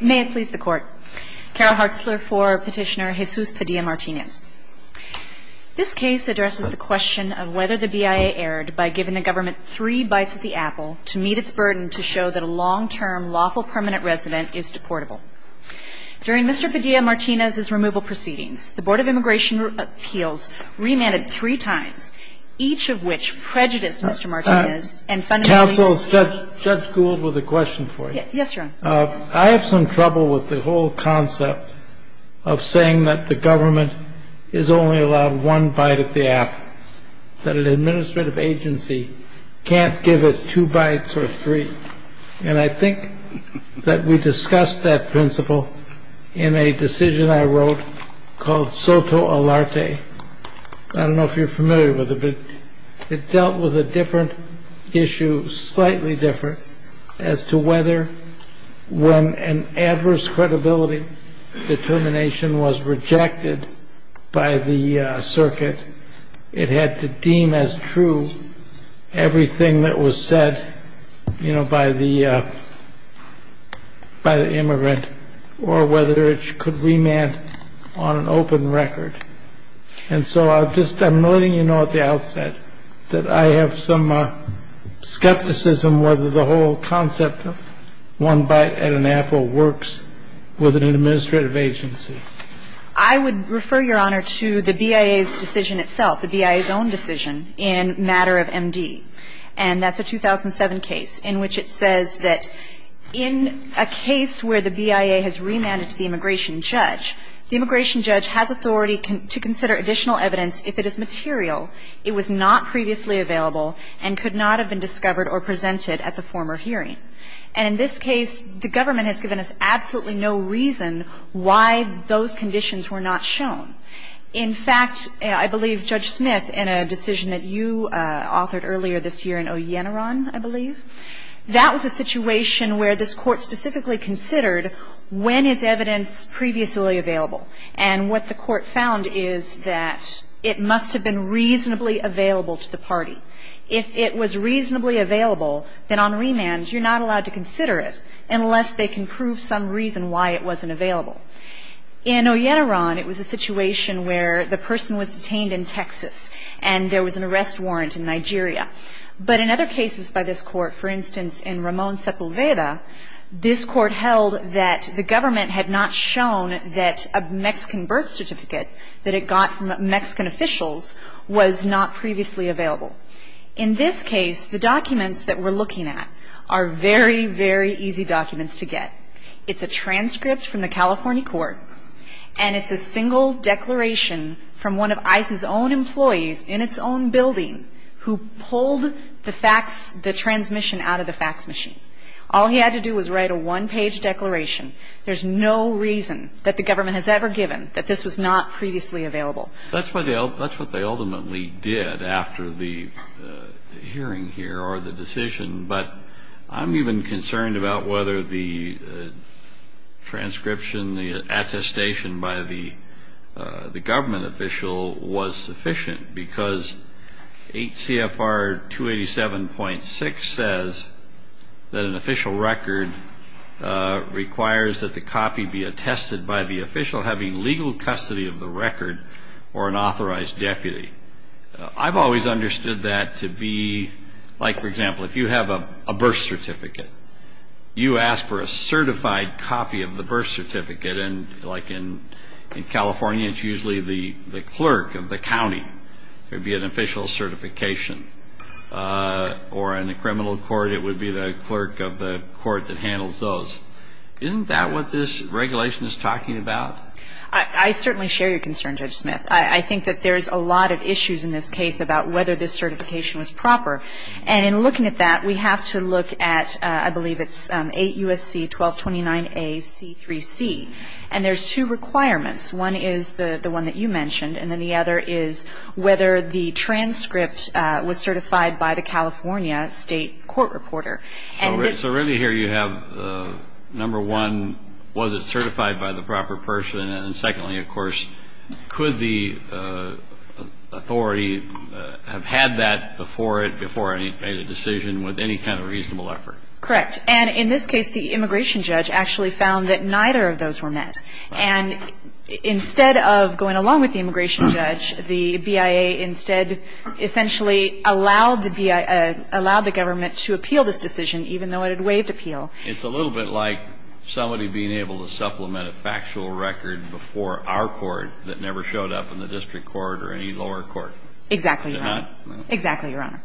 May it please the court. Carol Hartzler for petitioner Jesus Padilla-Martinez. This case addresses the question of whether the BIA erred by giving the government three bites at the apple to meet its burden to show that a long-term lawful permanent resident is deportable. During Mr. Padilla-Martinez's removal proceedings, the Board of Immigration Appeals remanded three times, each of which prejudiced Mr. Martinez, and fundamentally Council, Judge Gould with a question for you. Yes, Your Honor. I have some trouble with the whole concept of saying that the government is only allowed one bite at the apple, that an administrative agency can't give it two bites or three. And I think that we discussed that principle in a decision I wrote called Soto Alarte. I don't know if you're familiar with it. It dealt with a different issue, slightly different, as to whether, when an adverse credibility determination was rejected by the circuit, it had to deem as true everything that was said by the immigrant, or whether it could remand on an open record. And so I'm letting you know at the outset that I have some skepticism whether the whole concept of one bite at an apple works with an administrative agency. I would refer, Your Honor, to the BIA's decision itself, the BIA's own decision in matter of MD. And that's a 2007 case in which it says that in a case where the BIA has remanded to the immigration judge, the immigration judge has authority to consider additional evidence if it is material. It was not previously available and could not have been discovered or presented at the former hearing. And in this case, the government has given us absolutely no reason why those conditions were not shown. In fact, I believe Judge Smith, in a decision that you authored earlier this year in Oyenaran, I believe, that was a situation where this court specifically considered when is evidence previously available. And what the court found is that it was reasonably available to the party. If it was reasonably available, then on remand, you're not allowed to consider it unless they can prove some reason why it wasn't available. In Oyenaran, it was a situation where the person was detained in Texas, and there was an arrest warrant in Nigeria. But in other cases by this court, for instance, in Ramon Sepulveda, this court held that the government had not shown that a Mexican birth certificate that it was not previously available. In this case, the documents that we're looking at are very, very easy documents to get. It's a transcript from the California court, and it's a single declaration from one of ICE's own employees in its own building who pulled the transmission out of the fax machine. All he had to do was write a one-page declaration. There's no reason that the government has ever given that this was not previously available. That's what they ultimately did after the hearing here or the decision, but I'm even concerned about whether the transcription, the attestation by the government official was sufficient, because 8 CFR 287.6 says that an official record requires that the copy be attested by the official having legal custody of the record or an authorized deputy. I've always understood that to be, like, for example, if you have a birth certificate, you ask for a certified copy of the birth certificate. And like in California, it's usually the clerk of the county would be an official certification. Or in a criminal court, it would be the clerk of the court that handles those. Isn't that what this regulation is talking about? I certainly share your concern, Judge Smith. I think that there's a lot of issues in this case about whether this certification was proper. And in looking at that, we have to look at, I believe, it's 8 USC 1229A C3C. And there's two requirements. One is the one that you mentioned, and then the other is whether the transcript was certified by the California state court reporter. So really here you have, number one, was it certified by the proper person? And secondly, of course, could the authority have had that before it, before it made a decision, with any kind of reasonable effort? Correct. And in this case, the immigration judge actually found that neither of those were met. And instead of going along with the immigration judge, the BIA instead essentially allowed the government to appeal this decision, even though it had waived appeal. It's a little bit like somebody being able to supplement a factual record before our court that never showed up in the district court or any lower court. Exactly, Your Honor. Exactly, Your Honor.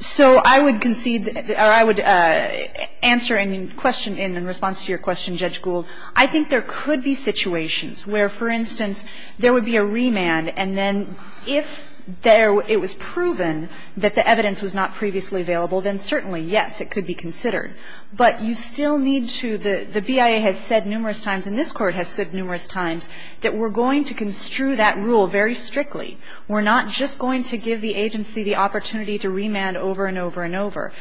So I would concede, or I would answer any question in response to your question, Judge Gould. I think there could be situations where, for instance, there would be a remand. And then if it was proven that the evidence was not previously available, then certainly, yes, it could be considered. But you still need to the BIA has said numerous times, and this Court has said numerous times, that we're going to construe that rule very strictly. We're not just going to give the agency the opportunity to remand over and over and over.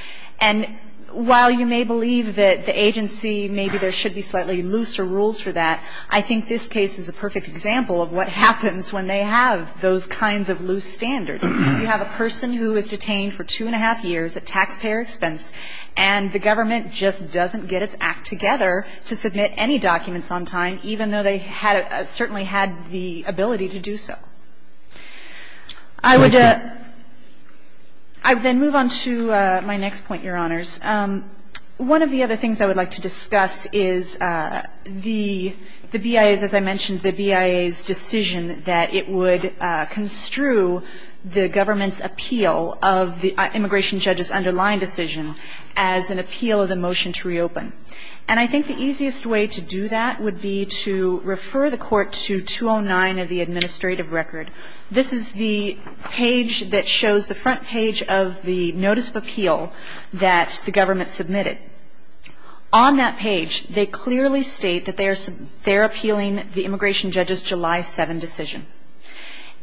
And while you may believe that the agency, maybe there should be slightly looser rules for that, I think this case is a perfect example of what happens when they have those kinds of loose standards. You have a person who is detained for two and a half years at taxpayer expense, and the government just doesn't get its act together to submit any documents on time, even though they had a – certainly had the ability to do so. I would – I would then move on to my next point, Your Honors. One of the other things I would like to discuss is the BIA's – as I mentioned, the BIA's decision that it would construe the government's appeal of the immigration judge's underlying decision as an appeal of the motion to reopen. And I think the easiest way to do that would be to refer the Court to 209 of the administrative record. This is the page that shows the front page of the notice of appeal that the government submitted. On that page, they clearly state that they are – they are appealing the immigration judge's July 7 decision.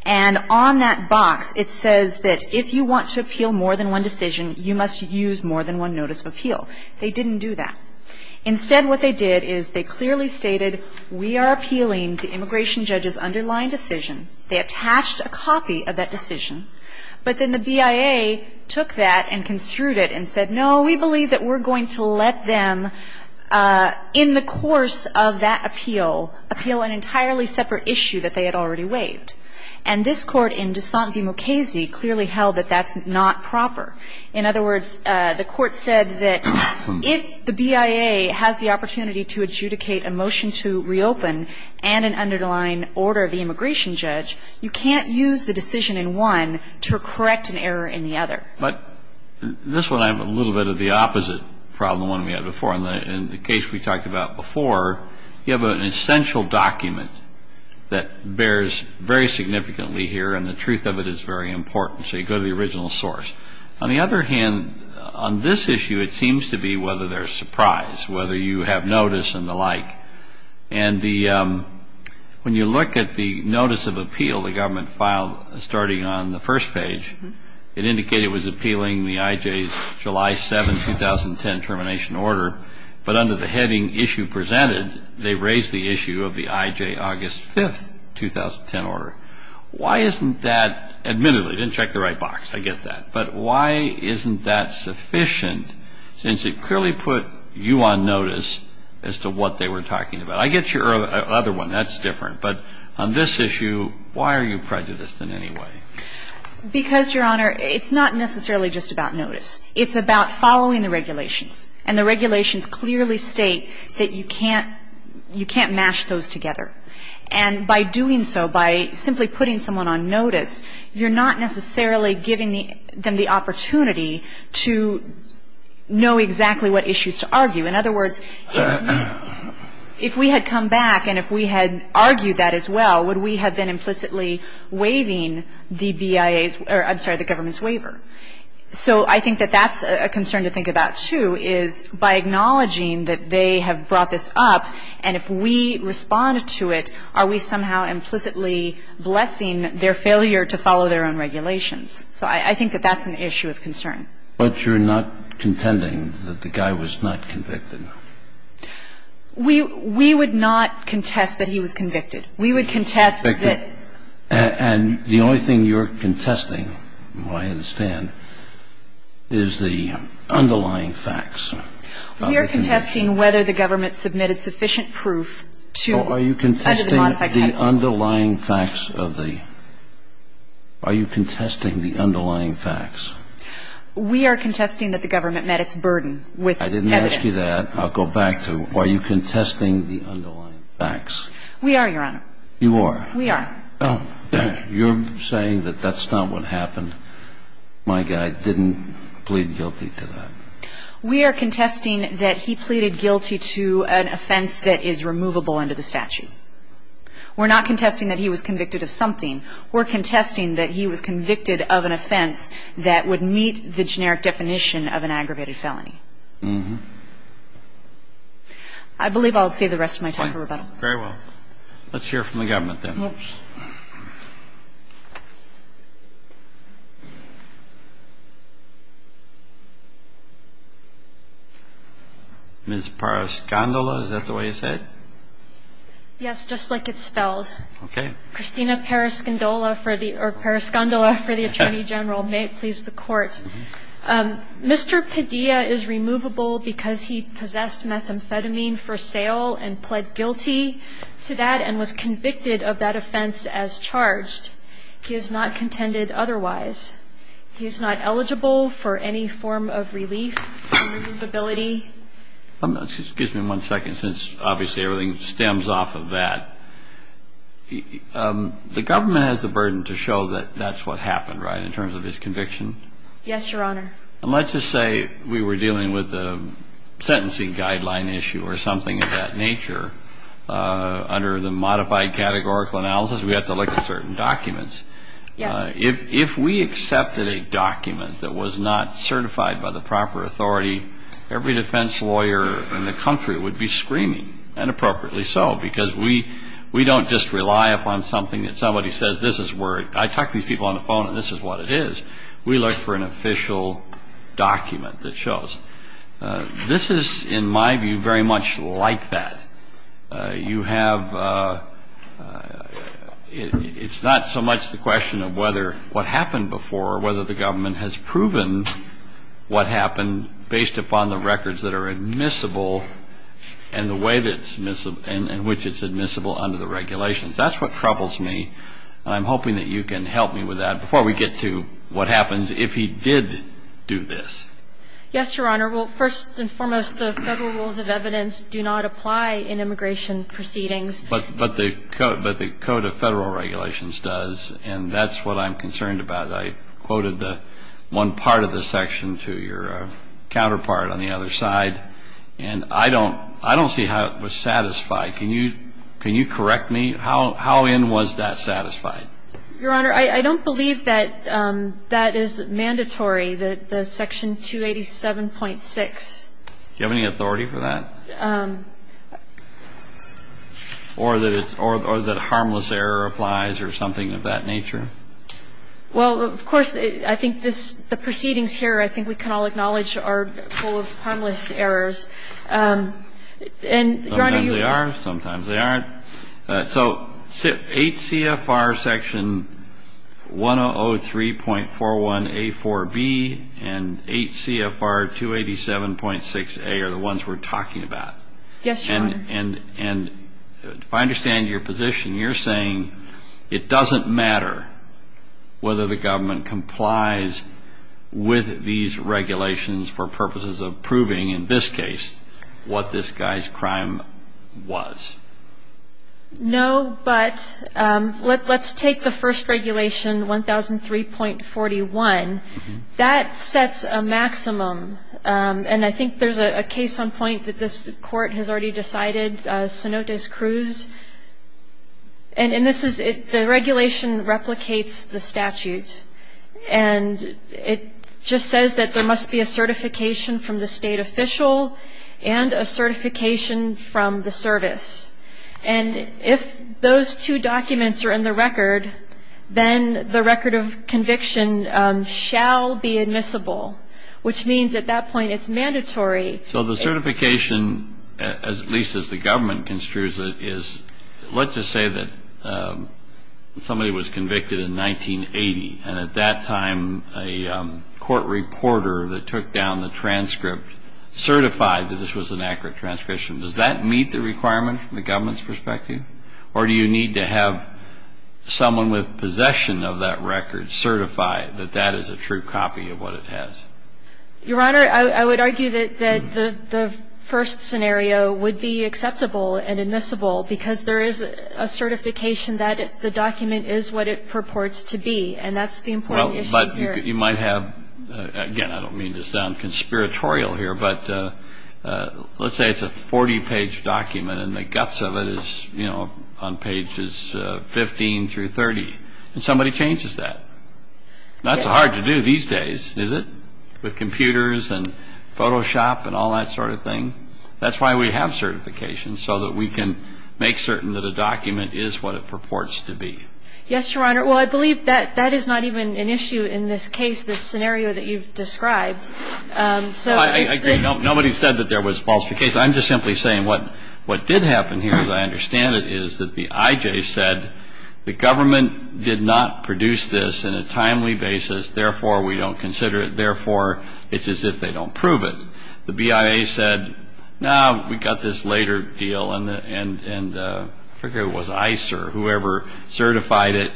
And on that box, it says that if you want to appeal more than one decision, you must use more than one notice of appeal. They didn't do that. Instead, what they did is they clearly stated, we are appealing the immigration judge's underlying decision. They attached a copy of that decision. But then the BIA took that and construed it and said, no, we believe that we're going to let them, in the course of that appeal, appeal an entirely separate issue that they had already waived. And this Court in De Santi Mochese clearly held that that's not proper. In other words, the Court said that if the BIA has the opportunity to adjudicate a motion to reopen and an underlying order of the immigration judge, you can't use the decision in one to correct an error in the other. But this one, I have a little bit of the opposite problem than we had before. In the case we talked about before, you have an essential document that bears very significantly here, and the truth of it is very important. So you go to the original source. On the other hand, on this issue, it seems to be whether there's surprise, whether you have notice and the like. And the – when you look at the notice of appeal the government filed starting on the first page, it indicated it was appealing the IJ's July 7, 2010 termination order, but under the heading issue presented, they raised the issue of the IJ August 5, 2010 order. Why isn't that – admittedly, they didn't check the right box. I get that. But why isn't that sufficient, since it clearly put you on notice as to what they were talking about? I get your other one. That's different. But on this issue, why are you prejudiced in any way? Because, Your Honor, it's not necessarily just about notice. It's about following the regulations. And the regulations clearly state that you can't – you can't mash those together. And by doing so, by simply putting someone on notice, you're not necessarily giving the – them the opportunity to know exactly what issues to argue. In other words, if we had come back and if we had argued that as well, would we have been implicitly waiving the BIA's – or, I'm sorry, the government's waiver? So I think that that's a concern to think about, too, is by acknowledging that they have brought this up, and if we respond to it, are we somehow implicitly blessing their failure to follow their own regulations? So I think that that's an issue of concern. But you're not contending that the guy was not convicted. We – we would not contest that he was convicted. We would contest that – And the only thing you're contesting, who I understand, is the underlying facts. We are contesting whether the government submitted sufficient proof to – Well, are you contesting the underlying facts of the – are you contesting the underlying facts? We are contesting that the government met its burden with evidence. I didn't ask you that. I'll go back to, are you contesting the underlying facts? We are, Your Honor. You are? We are. Oh. You're saying that that's not what happened. My guy didn't plead guilty to that. We are contesting that he pleaded guilty to an offense that is removable under the statute. We're not contesting that he was convicted of something. We're contesting that he was convicted of an offense that would meet the generic definition of an aggravated felony. Mm-hmm. I believe I'll save the rest of my time for rebuttal. Very well. Let's hear from the government, then. Oops. Ms. Paras-Gondola, is that the way you said it? Yes, just like it's spelled. Okay. Christina Paras-Gondola for the Attorney General. May it please the Court. Mr. Padilla is removable because he possessed methamphetamine for sale and pled guilty to that and was convicted of that offense as charged. He is not contended otherwise. He is not eligible for any form of relief, removability. Excuse me one second, since obviously everything stems off of that. The government has the burden to show that that's what happened, right, in terms of his conviction? Yes, Your Honor. And let's just say we were dealing with a sentencing guideline issue or something of that nature. Under the modified categorical analysis, we have to look at certain documents. Yes. If we accepted a document that was not certified by the proper authority, every defense lawyer in the country would be screaming, and appropriately so, because we don't just rely upon something that somebody says this is where, I talk to these people on the phone and this is what it is. We look for an official document that shows. This is, in my view, very much like that. You have, it's not so much the question of whether what happened before, or whether the government has proven what happened based upon the records that are admissible and the way in which it's admissible under the regulations. That's what troubles me. I'm hoping that you can help me with that before we get to what happens if he did do this. Yes, Your Honor. Well, first and foremost, the federal rules of evidence do not apply in immigration proceedings. But the Code of Federal Regulations does, and that's what I'm concerned about. I quoted the one part of the section to your counterpart on the other side, and I don't see how it was satisfied. Can you correct me? How in was that satisfied? Your Honor, I don't believe that that is mandatory, that the section 287.6. Do you have any authority for that? Or that harmless error applies or something of that nature? Well, of course, I think this, the proceedings here, I think we can all acknowledge are full of harmless errors. And, Your Honor, you would be able to correct me if I'm wrong. Sometimes they are, sometimes they aren't. So 8 CFR section 1003.41a4b and 8 CFR 287.6a are the ones we're talking about. Yes, Your Honor. And if I understand your position, you're saying it doesn't matter whether the government complies with these regulations for purposes of proving, in this case, what this guy's crime was. No, but let's take the first regulation, 1003.41. That sets a maximum. And I think there's a case on point that this court has already decided, Cenotes Cruz. And this is, the regulation replicates the statute. And it just says that there must be a certification from the state official and a certification from the service. And if those two documents are in the record, then the record of conviction shall be admissible, which means at that point it's mandatory. So the certification, at least as the government construes it, is, let's just say that somebody was convicted in 1980. And at that time, a court reporter that took down the transcript certified that this was an accurate transcription. Does that meet the requirement from the government's perspective? Or do you need to have someone with possession of that record certify that that is a true copy of what it has? Your Honor, I would argue that the first scenario would be acceptable and admissible because there is a certification that the document is what it purports to be. And that's the important issue here. But you might have, again, I don't mean to sound conspiratorial here, but let's say it's a 40-page document. And the guts of it is, you know, on pages 15 through 30. And somebody changes that. That's hard to do these days, is it, with computers and Photoshop and all that sort of thing? That's why we have certifications, so that we can make certain that a document is what it purports to be. Yes, Your Honor. Well, I believe that that is not even an issue in this case, this scenario that you've described. So it's a no. Nobody said that there was falsification. I'm just simply saying what did happen here, as I understand it, is that the IJ said the government did not produce this in a timely basis. Therefore, we don't consider it. Therefore, it's as if they don't prove it. The BIA said, no, we got this later deal. And I figure it was ICE or whoever certified it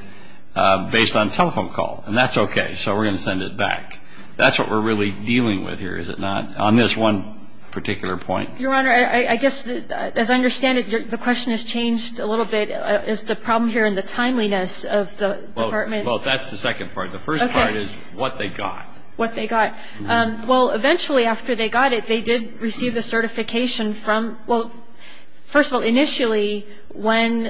based on telephone call. And that's OK. So we're going to send it back. That's what we're really dealing with here, is it not? On this one particular point. Your Honor, I guess, as I understand it, the question has changed a little bit. Is the problem here in the timeliness of the department? Well, that's the second part. The first part is what they got. What they got. Well, eventually, after they got it, they did receive the certification from, well, first of all, initially, when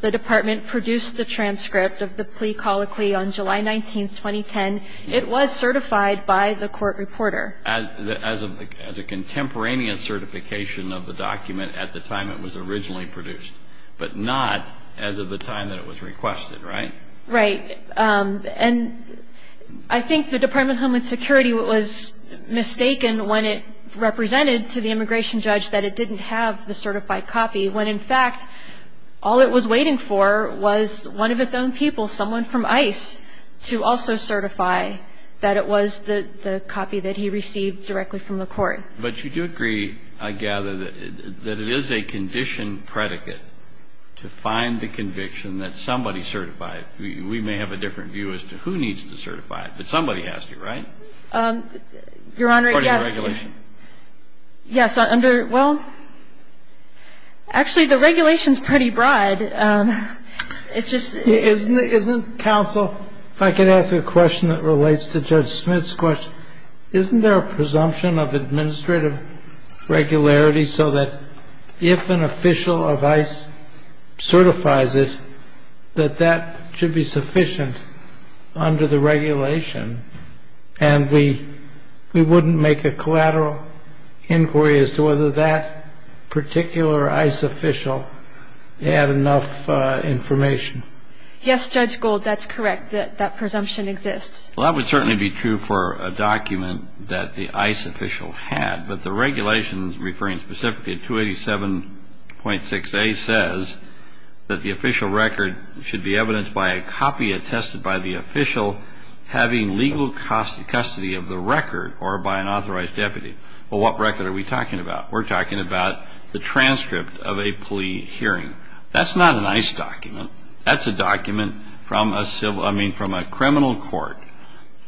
the department produced the transcript of the plea colloquy on July 19, 2010, it was certified by the court reporter. As a contemporaneous certification of the document at the time it was originally produced, but not as of the time that it was requested, right? Right. And I think the Department of Homeland Security was mistaken when it represented to the immigration judge that it didn't have the certified copy, when, in fact, all it was waiting for was one of its own people, someone from ICE, to also certify that it was the copy that he received directly from the court. But you do agree, I gather, that it is a condition predicate to find the conviction that somebody certified. We may have a different view as to who needs to certify it, but somebody has to, right? Your Honor, yes. According to regulation. Yes, under, well, actually, the regulation's pretty broad. And it's just, isn't it, isn't counsel, if I could ask a question that relates to Judge Smith's question, isn't there a presumption of administrative regularity so that if an official of ICE certifies it, that that should be sufficient under the regulation and we wouldn't make a collateral inquiry as to whether that particular ICE official had enough information? Yes, Judge Gold, that's correct, that that presumption exists. Well, that would certainly be true for a document that the ICE official had. But the regulation referring specifically to 287.6a says that the official record should be evidenced by a copy attested by the official having legal custody of the record or by an authorized deputy. Well, what record are we talking about? We're talking about the transcript of a plea hearing. That's not an ICE document. That's a document from a civil, I mean, from a criminal court.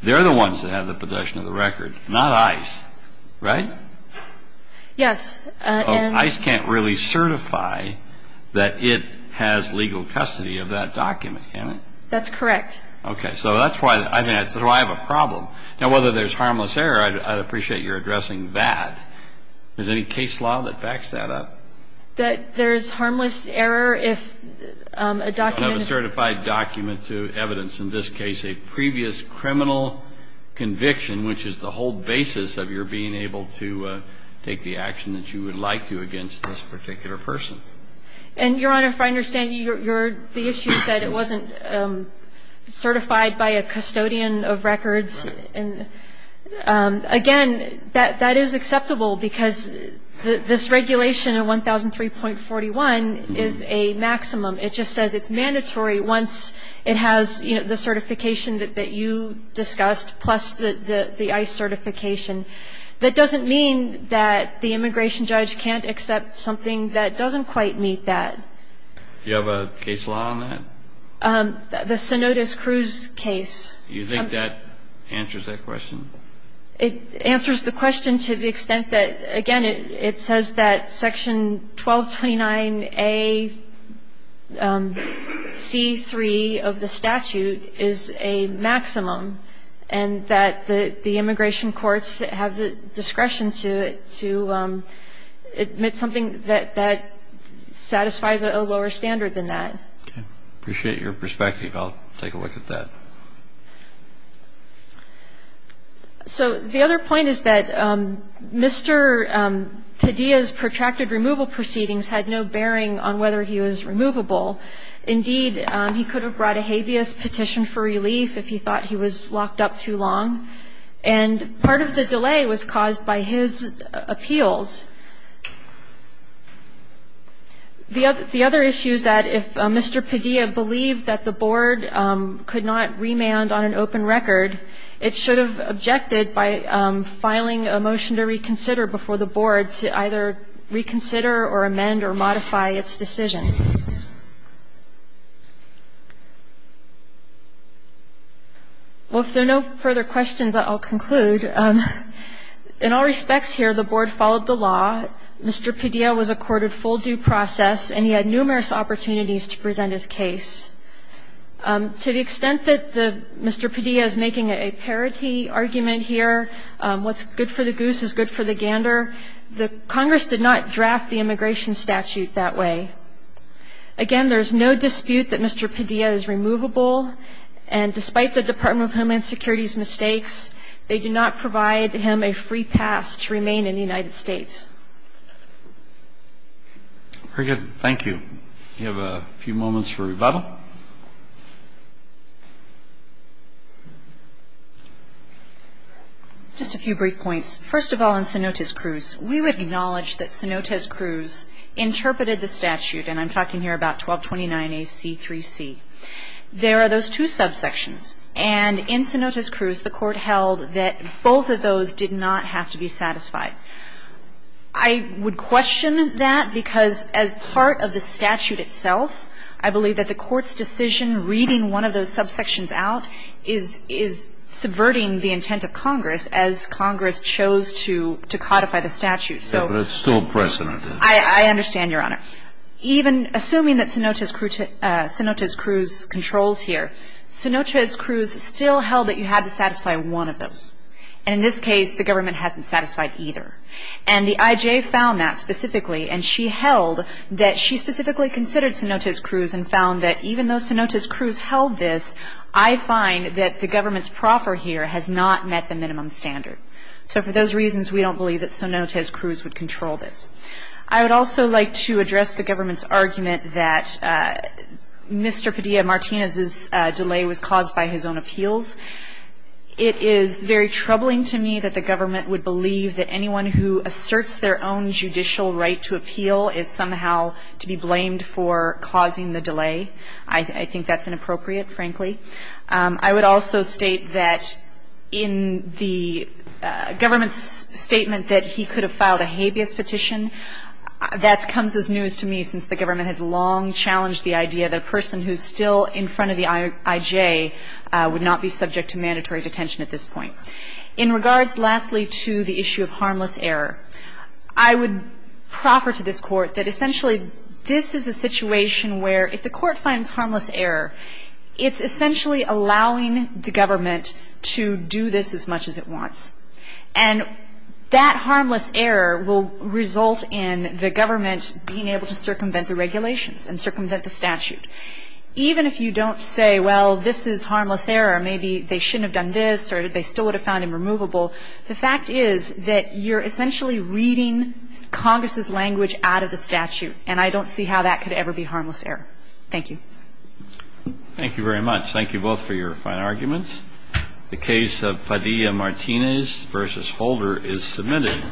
They're the ones that have the possession of the record, not ICE, right? Yes. And ICE can't really certify that it has legal custody of that document, can it? That's correct. Okay. So that's why I have a problem. Now, whether there's harmless error, I'd appreciate your addressing that. Is there any case law that backs that up? There's harmless error if a document is ---- You don't have a certified document to evidence, in this case, a previous criminal conviction, which is the whole basis of your being able to take the action that you would like to against this particular person. And, Your Honor, if I understand you, the issue is that it wasn't certified by a custodian of records. Right. And, again, that is acceptable, because this regulation in 1003.41 is a maximum. It just says it's mandatory once it has, you know, the certification that you discussed, plus the ICE certification. That doesn't mean that the immigration judge can't accept something that doesn't quite meet that. Do you have a case law on that? The Cenotes Cruz case. Do you think that answers that question? It answers the question to the extent that, again, it says that Section 1229A.C.3 of the statute is a maximum, and that the immigration courts have the discretion to admit something that satisfies a lower standard than that. Okay. I appreciate your perspective. I'll take a look at that. So the other point is that Mr. Padilla's protracted removal proceedings had no bearing on whether he was removable. Indeed, he could have brought a habeas petition for relief if he thought he was locked up too long. And part of the delay was caused by his appeals. The other issue is that if Mr. Padilla believed that the Board could not remand on an open record, it should have objected by filing a motion to reconsider before the Board to either reconsider or amend or modify its decision. Well, if there are no further questions, I'll conclude. In all respects here, the Board followed the law. Mr. Padilla was accorded full due process, and he had numerous opportunities to present his case. To the extent that the Mr. Padilla is making a parity argument here, what's good for the goose is good for the gander, the Congress did not draft the immigration statute that way. Again, there's no dispute that Mr. Padilla is removable, and despite the Department of Homeland Security's mistakes, they do not provide him a free pass to remain in the United States. Very good. Thank you. Do you have a few moments for rebuttal? Just a few brief points. First of all, in Cenotes Cruz, we would acknowledge that Cenotes Cruz interpreted the statute, and I'm talking here about 1229AC3C. There are those two subsections, and in Cenotes Cruz, the Court held that both of those did not have to be satisfied. I would question that, because as part of the statute itself, I believe that the Court's decision reading one of those subsections out is subverting the intent of Congress as Congress chose to codify the statute. But it's still precedent. I understand, Your Honor. Even assuming that Cenotes Cruz controls here, Cenotes Cruz still held that you had to satisfy one of those. And in this case, the government hasn't satisfied either. And the IJ found that specifically, and she held that she specifically considered Cenotes Cruz and found that even though Cenotes Cruz held this, I find that the government's proffer here has not met the minimum standard. So for those reasons, we don't believe that Cenotes Cruz would control this. I would also like to address the government's argument that Mr. Padilla Martinez's delay was caused by his own appeals. It is very troubling to me that the government would believe that anyone who asserts their own judicial right to appeal is somehow to be blamed for causing the delay. I think that's inappropriate, frankly. I would also state that in the government's statement that he could have filed a habeas petition, that comes as news to me since the government has long challenged the idea that a person who's still in front of the IJ would not be subject to mandatory detention at this point. In regards, lastly, to the issue of harmless error, I would proffer to this Court that essentially this is a situation where if the Court finds harmless error, it's essentially allowing the government to do this as much as it wants. And that harmless error will result in the government being able to circumvent the regulations and circumvent the statute. Even if you don't say, well, this is harmless error, maybe they shouldn't have done this or they still would have found him removable, the fact is that you're essentially reading Congress's language out of the statute. And I don't see how that could ever be harmless error. Thank you. Thank you very much. Thank you both for your fine arguments. The case of Padilla Martinez v. Holder is submitted.